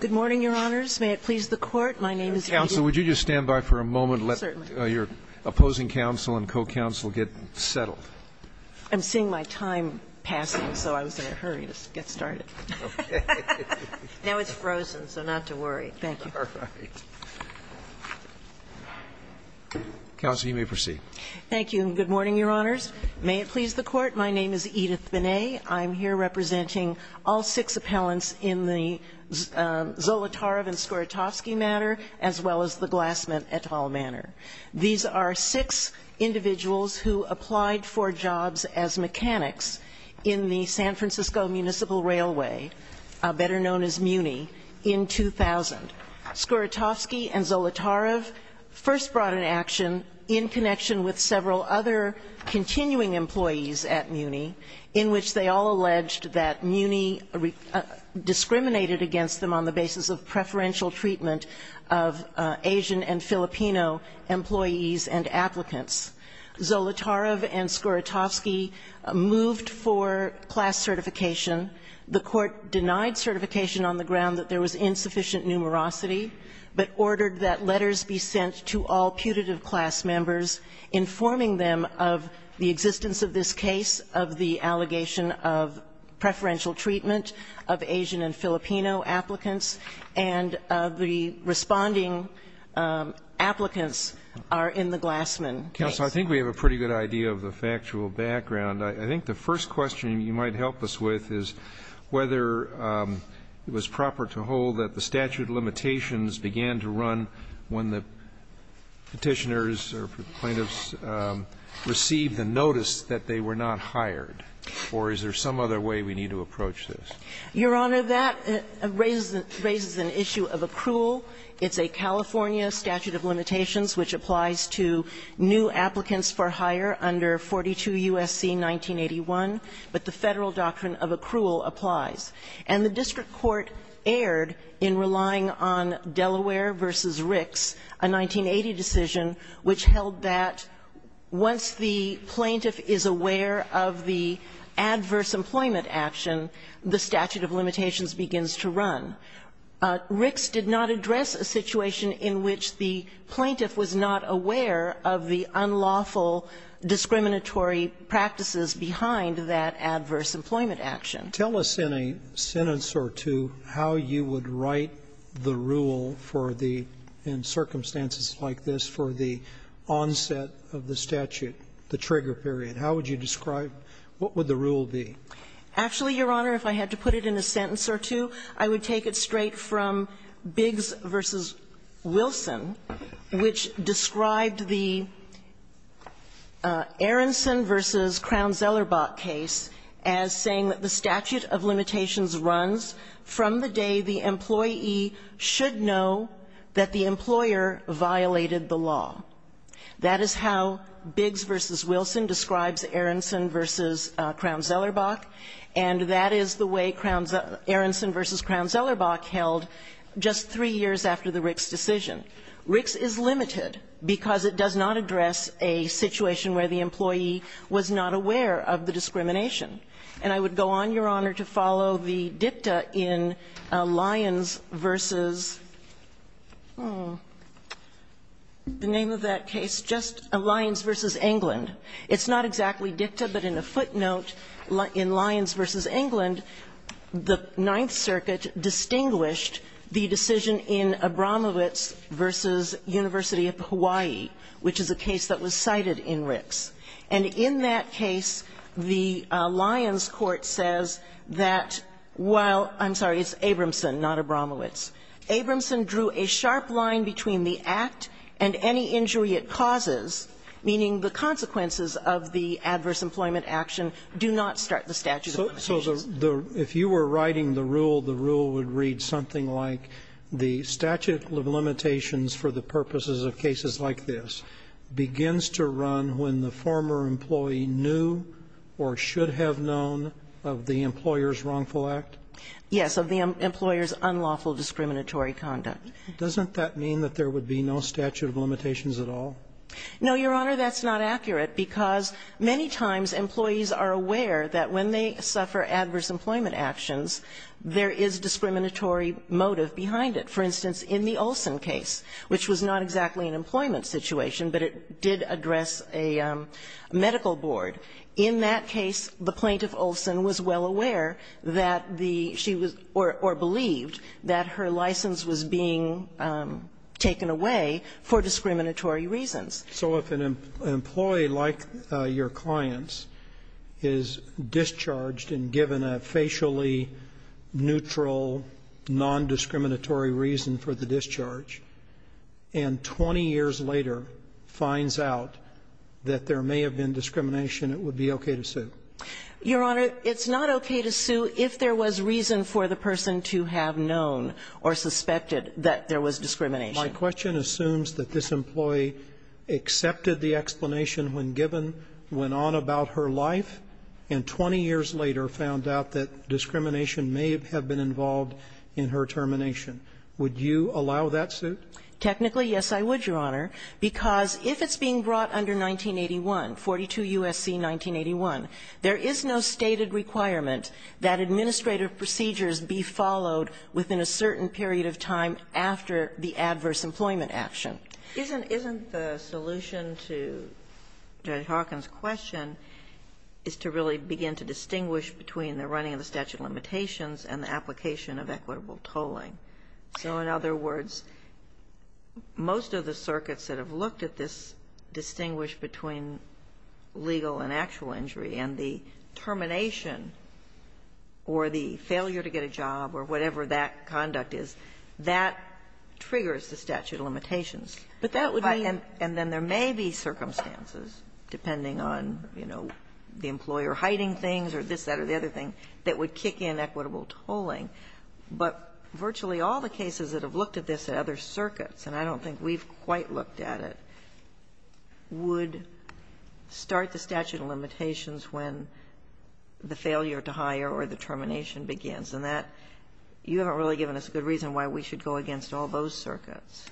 Good morning, Your Honors. May it please the Court, my name is Edith. Counsel, would you just stand by for a moment and let your opposing counsel and co-counsel get settled. I'm seeing my time passing, so I was in a hurry to get started. Now it's frozen, so not to worry. Thank you. Counsel, you may proceed. And good morning, Your Honors. May it please the Court. My name is Edith Binet. I'm here representing all six appellants in the Zolotarev and Skorotofsky matter, as well as the Glassman et al matter. These are six individuals who applied for jobs as mechanics in the San Francisco Municipal Railway, better known as MUNI, in 2000. Skorotofsky and Zolotarev first brought an action in connection with several other continuing employees at MUNI, in which they all alleged that MUNI discriminated against them on the basis of preferential treatment of Asian and Filipino employees and applicants. Zolotarev and Skorotofsky moved for class certification. The Court denied certification on the ground that there was insufficient numerosity, but ordered that letters be sent to all putative class members informing them of the existence of this case, of the allegation of preferential treatment of Asian and Filipino applicants, and of the responding applicants are in the Glassman case. Counsel, I think we have a pretty good idea of the factual background. I think the first question you might help us with is whether it was proper to hold that the statute of limitations began to run when the Petitioners or plaintiffs received the notice that they were not hired, or is there some other way we need to approach this? Your Honor, that raises an issue of accrual. It's a California statute of limitations which applies to new applicants for hire under 42 U.S.C. 1981, but the Federal doctrine of accrual applies. And the district court erred in relying on Delaware v. Ricks, a 1980 decision which held that once the plaintiff is aware of the adverse employment action, the statute of limitations begins to run. Ricks did not address a situation in which the plaintiff was not aware of the unlawful discriminatory practices behind that adverse employment action. Tell us in a sentence or two how you would write the rule for the, in circumstances like this, for the onset of the statute, the trigger period. How would you describe what would the rule be? Actually, Your Honor, if I had to put it in a sentence or two, I would take it straight from Biggs v. Wilson, which described the Aronson v. Crown-Zellerbach case as saying that the statute of limitations runs from the day the employee should know that the employer violated the law. That is how Biggs v. Wilson describes Aronson v. Crown-Zellerbach, and that is the way Aronson v. Crown-Zellerbach held just three years after the Ricks decision. Ricks is limited because it does not address a situation where the employee was not aware of the discrimination. And I would go on, Your Honor, to follow the dicta in Lyons v. the name of that case, just Lyons v. England. It's not exactly dicta, but in a footnote, in Lyons v. England, the Ninth Circuit distinguished the decision in Abramowitz v. University of Hawaii, which is a case that was cited in Ricks. And in that case, the Lyons court says that while – I'm sorry, it's Abramson, not Abramowitz. Abramson drew a sharp line between the act and any injury it causes, meaning the consequences of the adverse employment action do not start the statute of limitations. So the – if you were writing the rule, the rule would read something like the statute of limitations for the purposes of cases like this begins to run when the former employee knew or should have known of the employer's wrongful act? Yes, of the employer's unlawful discriminatory conduct. Doesn't that mean that there would be no statute of limitations at all? No, Your Honor, that's not accurate, because many times employees are aware that when they suffer adverse employment actions, there is discriminatory motive behind it. For instance, in the Olson case, which was not exactly an employment situation, but it did address a medical board, in that case, the plaintiff, Olson, was well aware that the – she was – or believed that her license was being taken away for discriminatory reasons. So if an employee, like your clients, is discharged and given a facially neutral, non-discriminatory reason for the discharge, and 20 years later finds out that there may have been discrimination, it would be okay to sue? Your Honor, it's not okay to sue if there was reason for the person to have known or suspected that there was discrimination. My question assumes that this employee accepted the explanation when given, went on about her life, and 20 years later found out that discrimination may have been involved in her termination. Would you allow that suit? Technically, yes, I would, Your Honor, because if it's being brought under 1981, 42 U.S.C. 1981, there is no stated requirement that administrative procedures be followed within a certain period of time after the adverse employment action. Isn't the solution to Judge Hawkins' question is to really begin to distinguish between the running of the statute of limitations and the application of equitable tolling? So, in other words, most of the circuits that have looked at this distinguish between legal and actual injury, and the termination or the failure to get a job or whatever that conduct is, that triggers the statute of limitations. But that would mean that there may be circumstances, depending on, you know, the other thing, that would kick in equitable tolling. But virtually all the cases that have looked at this at other circuits, and I don't think we've quite looked at it, would start the statute of limitations when the failure to hire or the termination begins. And that you haven't really given us a good reason why we should go against all those circuits.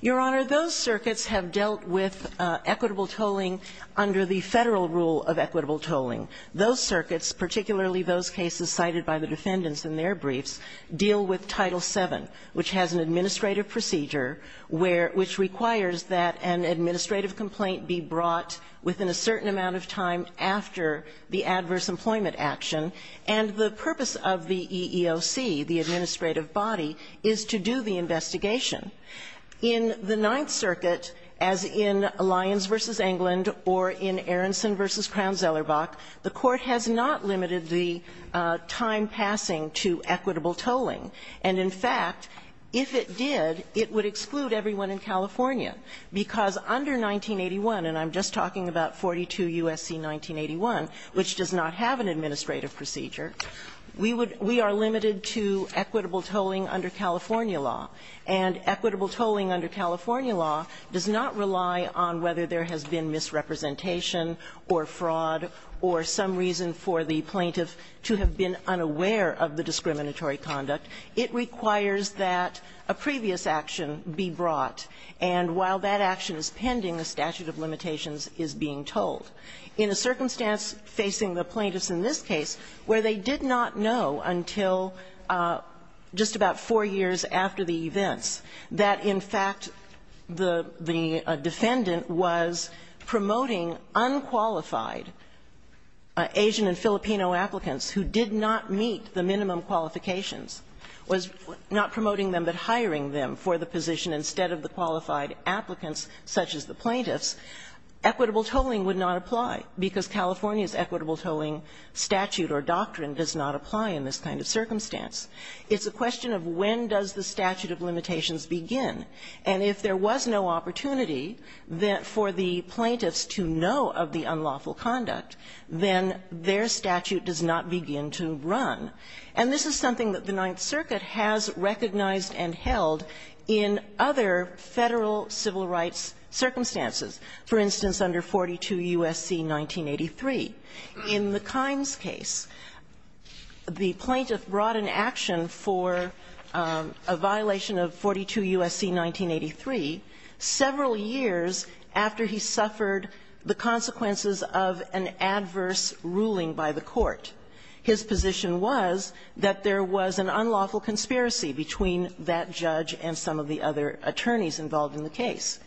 Your Honor, those circuits have dealt with equitable tolling under the Federal rule of equitable tolling. Those circuits, particularly those cases cited by the defendants in their briefs, deal with Title VII, which has an administrative procedure where – which requires that an administrative complaint be brought within a certain amount of time after the adverse employment action. And the purpose of the EEOC, the administrative body, is to do the investigation. In the Ninth Circuit, as in Lyons v. England or in Aronson v. Crown-Zellerbach, the Court has not limited the time passing to equitable tolling. And, in fact, if it did, it would exclude everyone in California, because under 1981, and I'm just talking about 42 U.S.C. 1981, which does not have an administrative procedure, we would – we are limited to equitable tolling under California law. And equitable tolling under California law does not rely on whether there has been misrepresentation or fraud or some reason for the plaintiff to have been unaware of the discriminatory conduct. It requires that a previous action be brought. And while that action is pending, a statute of limitations is being told. In a circumstance facing the plaintiffs in this case, where they did not know until just about four years after the events, that, in fact, the – the defendant was promoting unqualified Asian and Filipino applicants who did not meet the minimum qualifications, was not promoting them but hiring them for the position instead of the qualified applicants such as the plaintiffs, equitable tolling would not apply, because California's equitable tolling statute or doctrine does not apply in this kind of circumstance. It's a question of when does the statute of limitations begin. And if there was no opportunity for the plaintiffs to know of the unlawful conduct, then their statute does not begin to run. And this is something that the Ninth Circuit has recognized and held in other Federal civil rights circumstances, for instance, under 42 U.S.C. 1983. In the Kines case, the plaintiff brought an action for a violation of 42 U.S.C. 1983 several years after he suffered the consequences of an adverse ruling by the court. His position was that there was an unlawful conspiracy between that judge and some of the other attorneys involved in the case.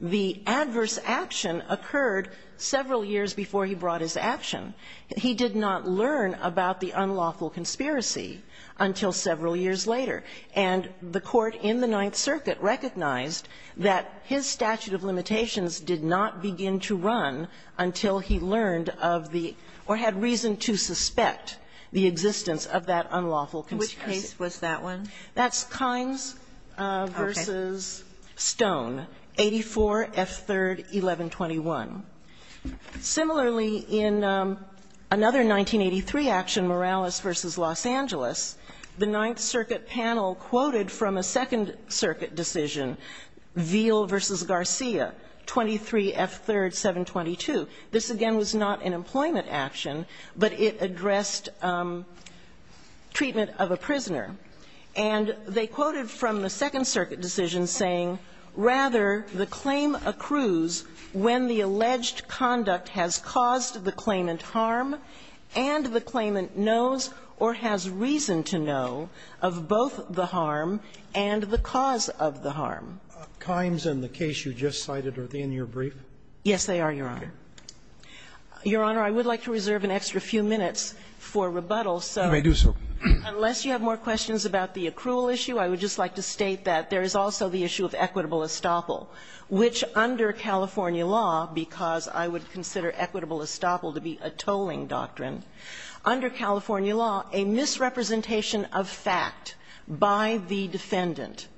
The adverse action occurred several years before he brought his action. He did not learn about the unlawful conspiracy until several years later. And the court in the Ninth Circuit recognized that his statute of limitations did not begin to run until he learned of the or had reason to suspect the existence of that unlawful conspiracy. Kagan. Kagan. That's Kines v. Stone, 84 F. 3rd, 1121. Similarly, in another 1983 action, Morales v. Los Angeles, the Ninth Circuit panel quoted from a Second Circuit decision, Veal v. Garcia, 23 F. 3rd, 722. This, again, was not an employment action, but it addressed treatment of a prisoner. And they quoted from the Second Circuit decision saying, rather, the claim accrues when the alleged conduct has caused the claimant harm and the claimant knows or has reason to know of both the harm and the cause of the harm. Kimes and the case you just cited, are they in your brief? Yes, they are, Your Honor. Your Honor, I would like to reserve an extra few minutes for rebuttal. So unless you have more questions about the accrual issue, I would just like to state that there is also the issue of equitable estoppel, which under California law, because I would consider equitable estoppel to be a tolling doctrine, under California law, a misrepresentation of fact by the defendant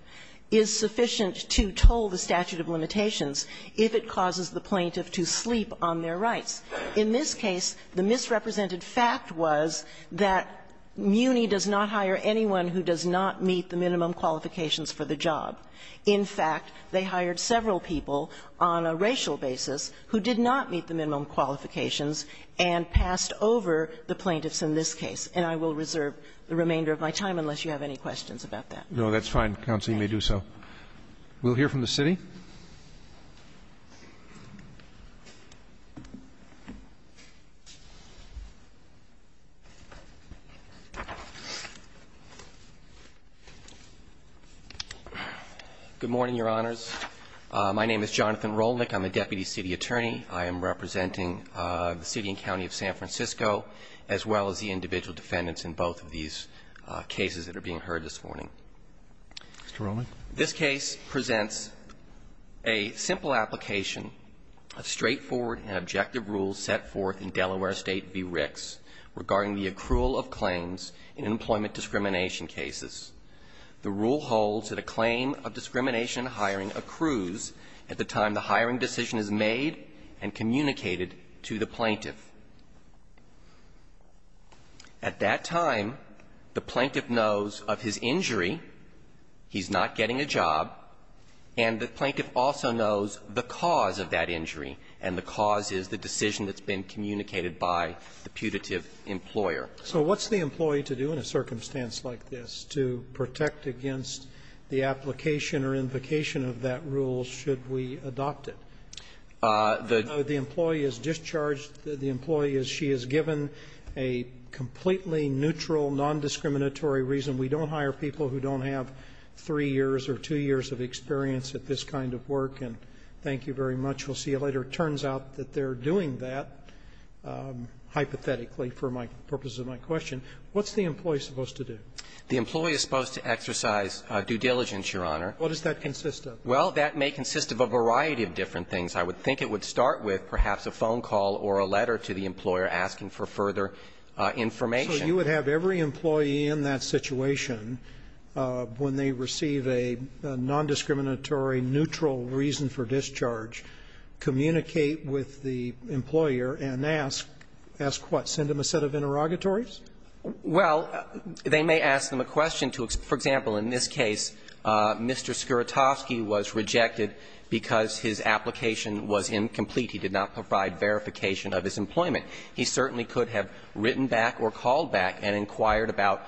is sufficient to toll the statute of limitations if it causes the plaintiff to sleep on their rights. In this case, the misrepresented fact was that Muni does not hire anyone who does not meet the minimum qualifications for the job. In fact, they hired several people on a racial basis who did not meet the minimum qualifications and passed over the plaintiffs in this case. And I will reserve the remainder of my time unless you have any questions about that. No, that's fine, counsel. You may do so. We'll hear from the city. Good morning, Your Honors. My name is Jonathan Rolnick. I'm a deputy city attorney. I am representing the city and county of San Francisco, as well as the individual defendants in both of these cases that are being heard this morning. Mr. Rolnick. This case presents a simple application of straightforward and objective rules set forth in Delaware State v. Ricks regarding the accrual of claims in employment discrimination cases. The rule holds that a claim of discrimination in hiring accrues at the time the hiring decision is made and communicated to the plaintiff. At that time, the plaintiff knows of his injury, he's not getting a job, and the plaintiff also knows the cause of that injury, and the cause is the decision that's been communicated by the putative employer. So what's the employee to do in a circumstance like this to protect against the application or invocation of that rule should we adopt it? The employee is discharged. The employee is she is given a completely neutral, nondiscriminatory reason. We don't hire people who don't have three years or two years of experience at this kind of work, and thank you very much. We'll see you later. It turns out that they're doing that, hypothetically, for my purposes of my question. What's the employee supposed to do? The employee is supposed to exercise due diligence, Your Honor. What does that consist of? Well, that may consist of a variety of different things. I would think it would start with perhaps a phone call or a letter to the employer asking for further information. So you would have every employee in that situation, when they receive a nondiscriminatory, neutral reason for discharge, communicate with the employer and ask, ask what? Send them a set of interrogatories? Well, they may ask them a question to, for example, in this case, Mr. Skiratovsky was rejected because his application was incomplete. He did not provide verification of his employment. He certainly could have written back or called back and inquired about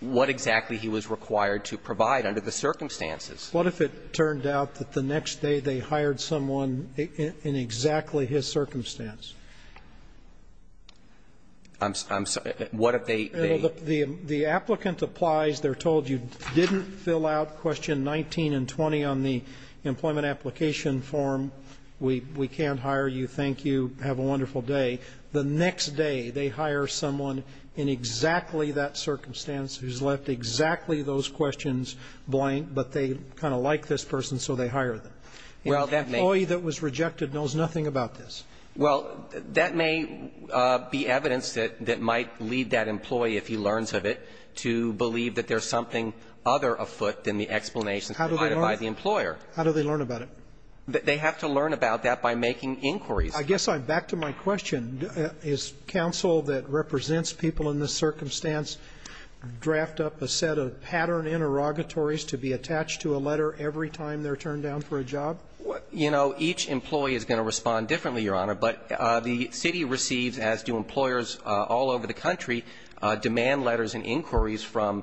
what exactly he was required to provide under the circumstances. What if it turned out that the next day they hired someone in exactly his circumstance? I'm sorry. What if they? The applicant applies. They're told you didn't fill out question 19 and 20 on the employment application form. We can't hire you. Thank you. Have a wonderful day. The next day they hire someone in exactly that circumstance who's left exactly those questions blank, but they kind of like this person, so they hire them. Well, that may. The employee that was rejected knows nothing about this. Well, that may be evidence that might lead that employee, if he learns of it, to believe that there's something other afoot than the explanations provided by the employer. How do they learn about it? They have to learn about that by making inquiries. I guess I'm back to my question. Is counsel that represents people in this circumstance draft up a set of pattern interrogatories to be attached to a letter every time they're turned down for a job? You know, each employee is going to respond differently, Your Honor, but the city receives, as do employers all over the country, demand letters and inquiries from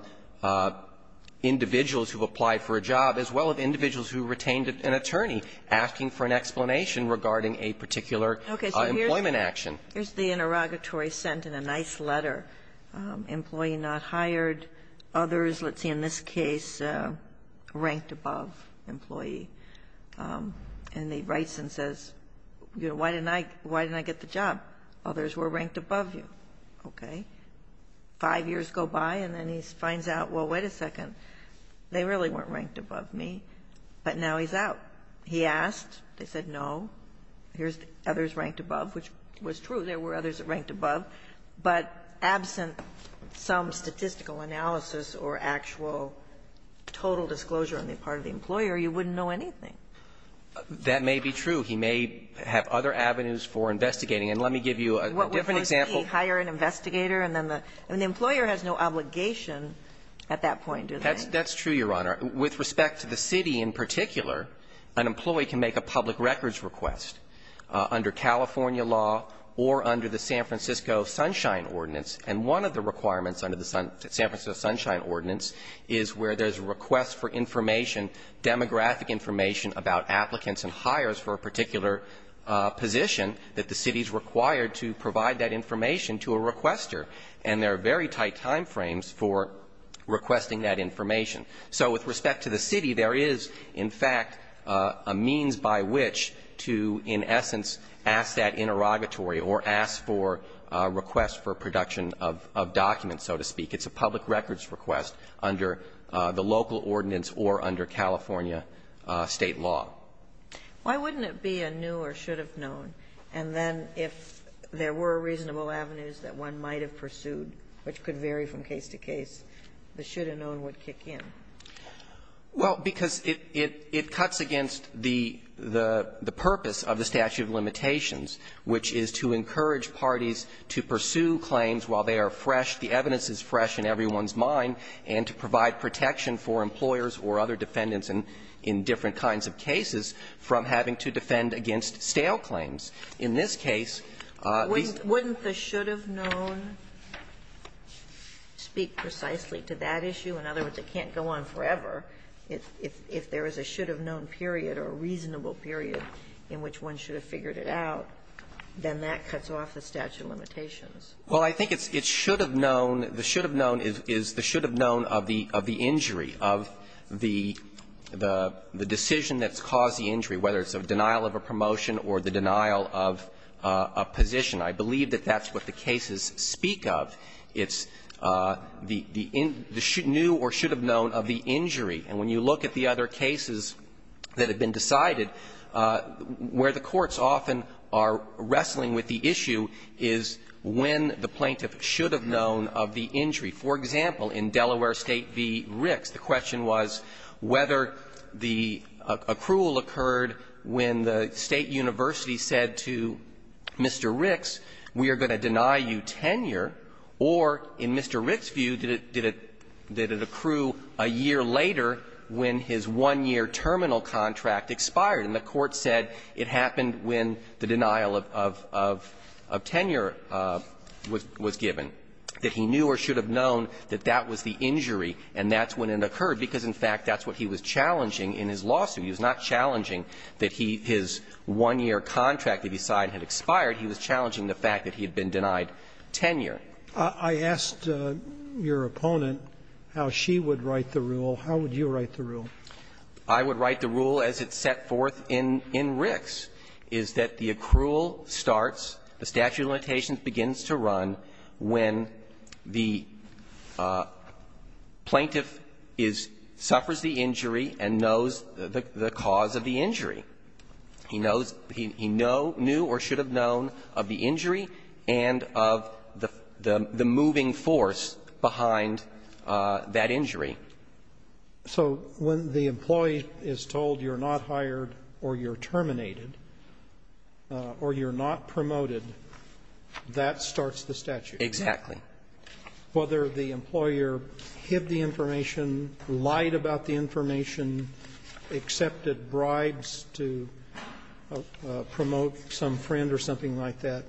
individuals who've applied for a job as well as individuals who retained an attorney asking for an explanation regarding a particular employment action. Okay. So here's the interrogatory sent in a nice letter. Employee not hired. Others, let's see, in this case, ranked above employee. And he writes and says, you know, why didn't I get the job? Others were ranked above you. Okay. Five years go by, and then he finds out, well, wait a second, they really weren't ranked above me, but now he's out. He asked. They said, no, here's others ranked above, which was true. There were others that ranked above, but absent some statistical analysis or actual total disclosure on the part of the employer, you wouldn't know anything. That may be true. He may have other avenues for investigating. And let me give you a different example. What would those be? Hire an investigator and then the employer has no obligation at that point, do they? That's true, Your Honor. With respect to the city in particular, an employee can make a public records request under California law or under the San Francisco Sunshine Ordinance. And one of the requirements under the San Francisco Sunshine Ordinance is where there's a request for information, demographic information about applicants and hires for a particular position that the city is required to provide that information to a requester, and there are very tight time frames for requesting that information. So with respect to the city, there is, in fact, a means by which to, in essence, ask that interrogatory or ask for a request for production of documents, so to speak. It's a public records request under the local ordinance or under California State law. Why wouldn't it be a new or should have known, and then if there were reasonable avenues that one might have pursued, which could vary from case to case, the should have known would kick in? Well, because it cuts against the purpose of the statute of limitations, which is to encourage parties to pursue claims while they are fresh, the evidence is fresh in everyone's mind, and to provide protection for employers or other defendants in different kinds of cases from having to defend against stale claims. In this case, these are the reasons why it's not a new or should have known. Wouldn't the should have known speak precisely to that issue? In other words, it can't go on forever. If there is a should have known period or a reasonable period in which one should have figured it out, then that cuts off the statute of limitations. Well, I think it's should have known. The should have known is the should have known of the injury, of the decision that's caused the injury, whether it's a denial of a promotion or the denial of a position. I believe that that's what the cases speak of. It's the new or should have known of the injury. And when you look at the other cases that have been decided, where the courts often are wrestling with the issue is when the plaintiff should have known of the injury. For example, in Delaware State v. Ricks, the question was whether the accrual occurred when the State University said to Mr. Ricks, we are going to deny you tenure or, in Mr. Ricks' view, did it accrue a year later when his one-year terminal contract expired. And the Court said it happened when the denial of tenure was given, that he knew or should have known that that was the injury and that's when it occurred, because in fact that's what he was challenging in his lawsuit. He was not challenging that his one-year contract that he signed had expired. He was challenging the fact that he had been denied tenure. I asked your opponent how she would write the rule. How would you write the rule? I would write the rule as it's set forth in Ricks, is that the accrual starts, the statute of limitations begins to run when the plaintiff is – suffers the injury and knows the cause of the injury. He knows – he knew or should have known of the injury and of the moving force behind that injury. So when the employee is told you're not hired or you're terminated or you're not promoted, that starts the statute? Exactly. Whether the employer hid the information, lied about the information, accepted the bribes to promote some friend or something like that,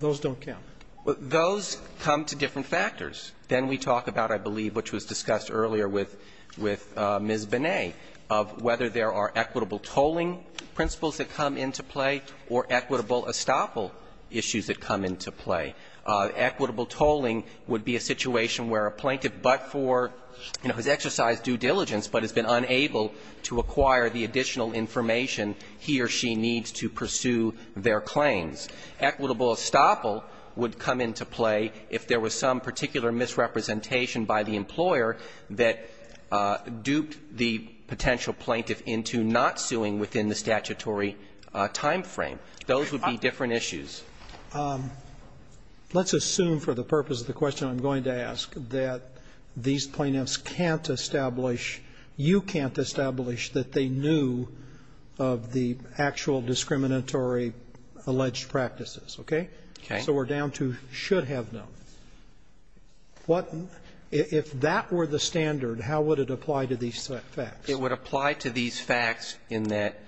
those don't count. Those come to different factors. Then we talk about, I believe, which was discussed earlier with Ms. Bonet, of whether there are equitable tolling principles that come into play or equitable estoppel issues that come into play. Equitable tolling would be a situation where a plaintiff, but for, you know, has exercised due diligence but has been unable to acquire the additional information he or she needs to pursue their claims. Equitable estoppel would come into play if there was some particular misrepresentation by the employer that duped the potential plaintiff into not suing within the statutory time frame. Those would be different issues. Let's assume for the purpose of the question I'm going to ask that these plaintiffs can't establish, you can't establish, that they knew of the actual discriminatory alleged practices, okay? Okay. So we're down to should have known. What, if that were the standard, how would it apply to these facts? It would apply to these facts in that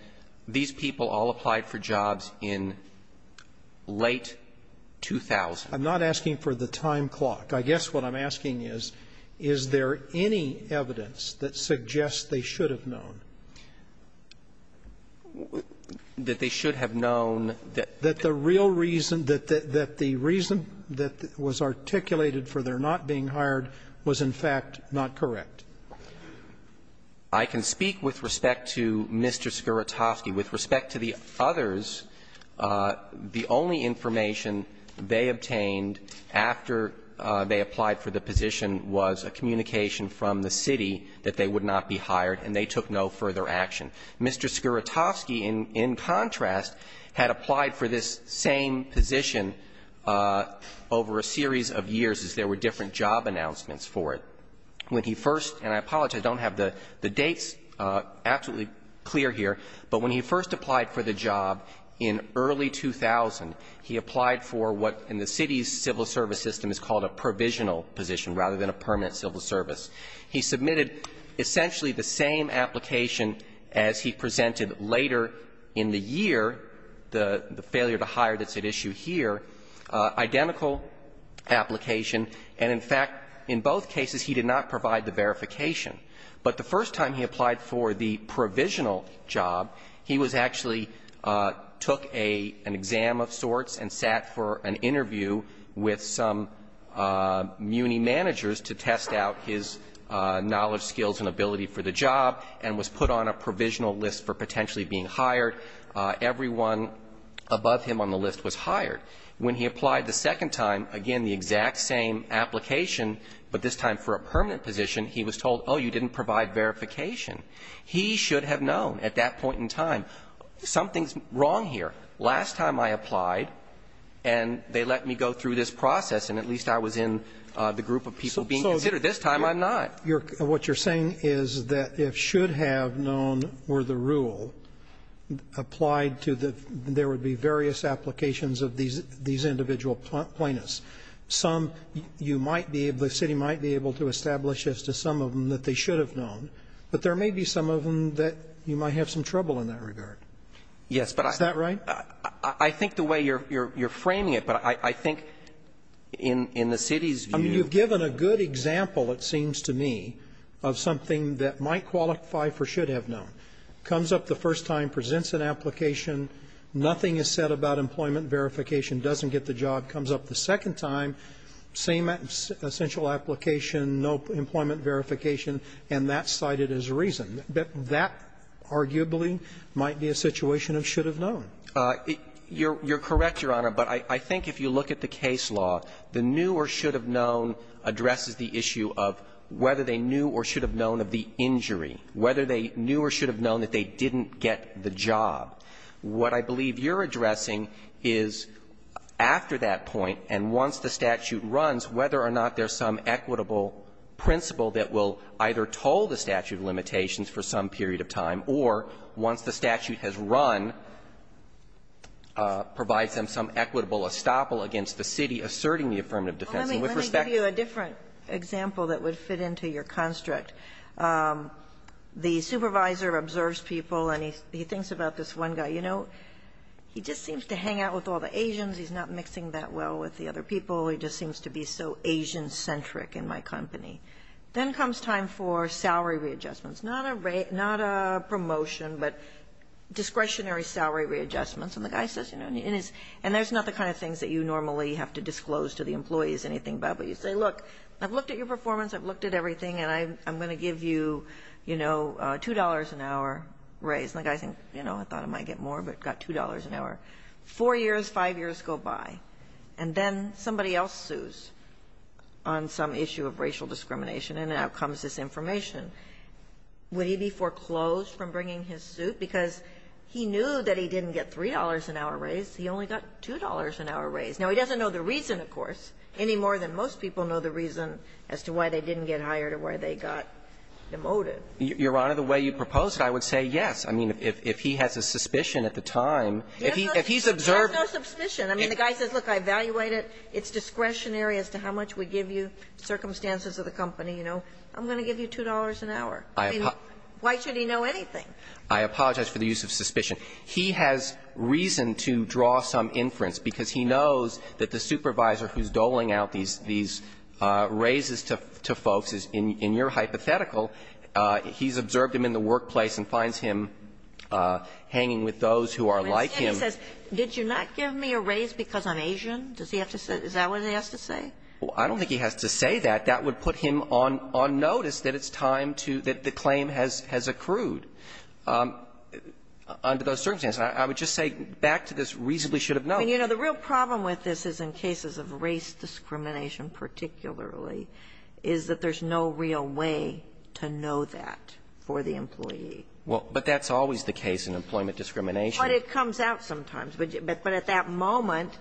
these people all applied for jobs in late 2000. I'm not asking for the time clock. I guess what I'm asking is, is there any evidence that suggests they should have known? That they should have known that the real reason, that the reason that was articulated for their not being hired was, in fact, not correct. I can speak with respect to Mr. Skowrotowski. With respect to the others, the only information they obtained after they applied for the position was a communication from the city that they would not be hired, and they took no further action. Mr. Skowrotowski, in contrast, had applied for this same position over a series of years as there were different job announcements for it. When he first – and I apologize, I don't have the dates absolutely clear here – but when he first applied for the job in early 2000, he applied for what in the city's civil service system is called a provisional position rather than a permanent civil service. He submitted essentially the same application as he presented later in the year, the failure to hire that's at issue here, identical application, and, in fact, in both cases he did not provide the verification. But the first time he applied for the provisional job, he was actually – took an exam of sorts and sat for an interview with some muni managers to test out his knowledge, skills, and ability for the job and was put on a provisional list for potentially being hired. Everyone above him on the list was hired. When he applied the second time, again, the exact same application, but this time for a permanent position, he was told, oh, you didn't provide verification. He should have known at that point in time, something's wrong here. Last time I applied and they let me go through this process and at least I was in the group of people being considered. This time I'm not. Roberts, you're – what you're saying is that if should have known were the rule applied to the – there would be various applications of these – these individual plaintiffs. Some you might be able – the city might be able to establish as to some of them that they should have known, but there may be some of them that you might have some trouble in that regard. Yes, but I – Is that right? I think the way you're – you're framing it, but I think in – in the city's view – I mean, you've given a good example, it seems to me, of something that might qualify for should have known. Comes up the first time, presents an application, nothing is said about employment verification, doesn't get the job. Comes up the second time, same essential application, no employment verification, and that's cited as reason. That arguably might be a situation of should have known. You're – you're correct, Your Honor, but I think if you look at the case law, the knew or should have known addresses the issue of whether they knew or should have known of the injury, whether they knew or should have known that they didn't get the job. What I believe you're addressing is after that point and once the statute runs, whether or not there's some equitable principle that will either toll the statute of limitations for some period of time, or once the statute has run, provides them some equitable estoppel against the city asserting the affirmative defense in which respect – Well, let me – let me give you a different example that would fit into your construct. The supervisor observes people and he thinks about this one guy, you know, he just seems to hang out with all the Asians, he's not mixing that well with the other people, he just seems to be so Asian-centric in my company. Then comes time for salary readjustments, not a promotion, but discretionary salary readjustments, and the guy says, you know, and there's not the kind of things that you normally have to disclose to the employees anything about, but you say, look, I've looked at your performance, I've looked at everything, and I'm going to give you, you know, $2 an hour raise. And the guy thinks, you know, I thought I might get more, but I got $2 an hour. Four years, five years go by, and then somebody else sues on some issue of racial discrimination, and out comes this information. Would he be foreclosed from bringing his suit? Because he knew that he didn't get $3 an hour raise, he only got $2 an hour raise. Now, he doesn't know the reason, of course, any more than most people know the reason as to why they didn't get hired or why they got demoted. Your Honor, the way you proposed it, I would say yes. I mean, if he has a suspicion at the time, if he's observed. There's no suspicion. I mean, the guy says, look, I evaluate it, it's discretionary as to how much we give you, circumstances of the company, you know, I'm going to give you $2 an hour. I mean, why should he know anything? I apologize for the use of suspicion. He has reason to draw some inference, because he knows that the supervisor who's doling out these raises to folks is, in your hypothetical, he's observed him in the workplace and finds him hanging with those who are like him. Ginsburg. But instead he says, did you not give me a raise because I'm Asian? Does he have to say that? Is that what he has to say? Well, I don't think he has to say that. That would put him on notice that it's time to – that the claim has accrued under those circumstances. I would just say, back to this reasonably should have known. I mean, you know, the real problem with this is in cases of race discrimination, particularly, is that there's no real way to know that for the employee. Well, but that's always the case in employment discrimination. But it comes out sometimes. But at that moment,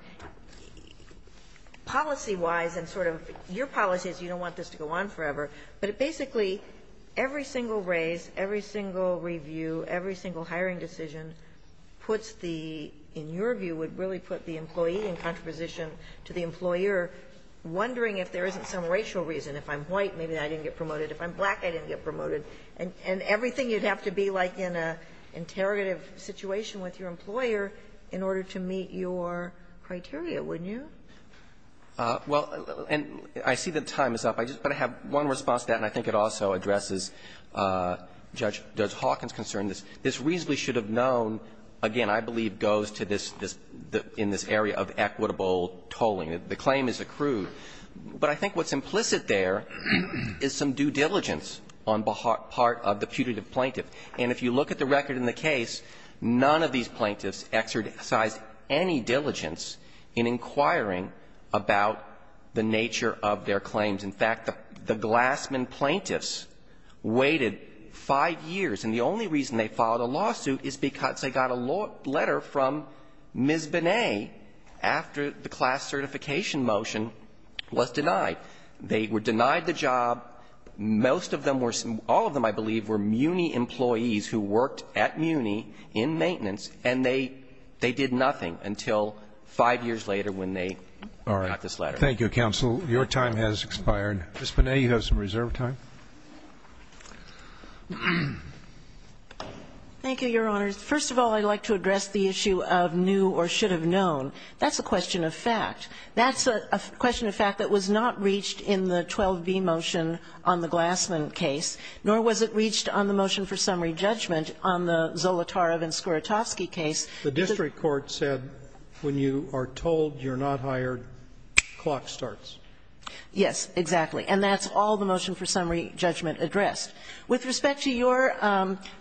policy-wise and sort of your policy is you don't want this to go on forever, but it basically, every single raise, every single review, every single hiring decision puts the, in your view, would really put the employee in contraposition to the employer, wondering if there isn't some racial reason. If I'm white, maybe I didn't get promoted. If I'm black, I didn't get promoted. And everything you'd have to be like in an interrogative situation with your employer in order to meet your criteria, wouldn't you? Well, and I see that time is up. I just want to have one response to that, and I think it also addresses Judge Hawkins' concern. This reasonably should have known, again, I believe, goes to this, in this area of equitable tolling. The claim is accrued. But I think what's implicit there is some due diligence on the part of the putative plaintiff. And if you look at the record in the case, none of these plaintiffs exercised any diligence in inquiring about the nature of their claims. In fact, the Glassman plaintiffs waited five years, and the only reason they filed a lawsuit is because they got a letter from Ms. Binet after the class certification motion was denied. They were denied the job. Most of them were, all of them, I believe, were MUNI employees who worked at MUNI in maintenance, and they did nothing until five years later when they got this letter. Thank you, counsel. Your time has expired. Ms. Binet, you have some reserve time. Thank you, Your Honors. First of all, I'd like to address the issue of knew or should have known. That's a question of fact. That's a question of fact that was not reached in the 12b motion on the Glassman case, nor was it reached on the motion for summary judgment on the Zolotarov and Skowrotowski case. The district court said when you are told you're not hired, clock starts. Yes, exactly. And that's all the motion for summary judgment addressed. With respect to your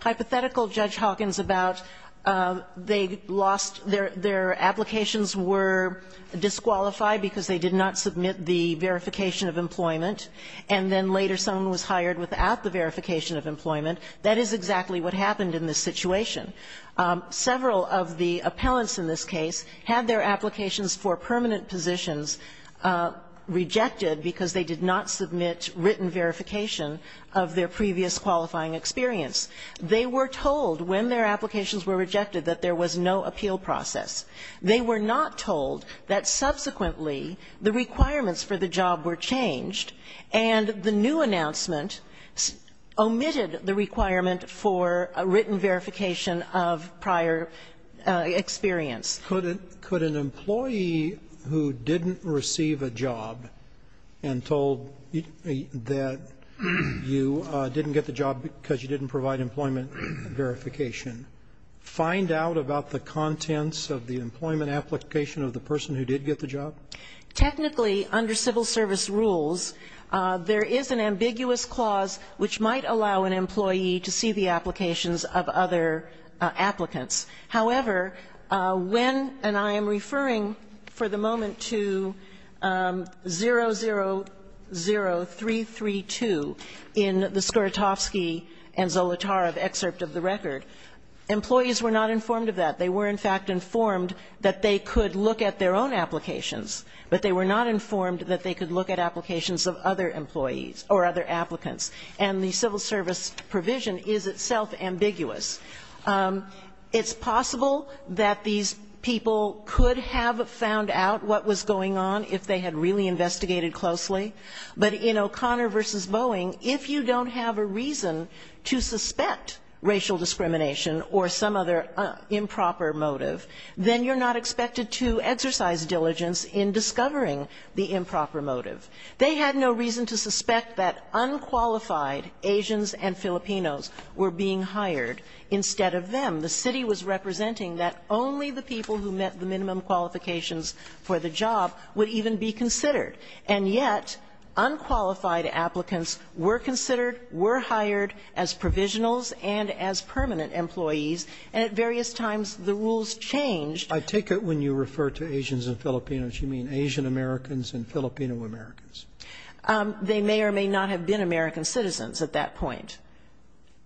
hypothetical, Judge Hawkins, about they lost their applications were disqualified because they did not submit the verification of employment, and then later someone was hired without the verification of employment. That is exactly what happened in this situation. Several of the appellants in this case had their applications for permanent positions rejected because they did not submit written verification of their previous qualifying experience. They were told when their applications were rejected that there was no appeal process. They were not told that subsequently the requirements for the job were changed and the new announcement omitted the requirement for written verification of prior experience. Could an employee who didn't receive a job and told that you didn't get the job because you didn't provide employment verification find out about the contents of the employment Technically, under civil service rules, there is an ambiguous clause which might allow an employee to see the applications of other applicants. However, when, and I am referring for the moment to 000332 in the Skorotofsky and Zolotarov excerpt of the record, employees were not informed of that. They were in fact informed that they could look at their own applications, but they were not informed that they could look at applications of other employees or other applicants. And the civil service provision is itself ambiguous. It's possible that these people could have found out what was going on if they had really investigated closely, but in O'Connor versus Boeing, if you don't have a reason to suspect racial discrimination or some other improper motive, then you're not expected to exercise diligence in discovering the improper motive. They had no reason to suspect that unqualified Asians and Filipinos were being hired instead of them. The city was representing that only the people who met the minimum qualifications for the job would even be considered. And yet unqualified applicants were considered, were hired as provisionals and as permanent employees, and at various times the rules changed. I take it when you refer to Asians and Filipinos, you mean Asian Americans and Filipino Americans. They may or may not have been American citizens at that point.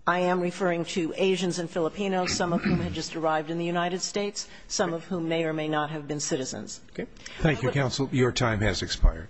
I am referring to Asians and Filipinos, some of whom had just arrived in the United States, some of whom may or may not have been citizens. Thank you, counsel. Your time has expired.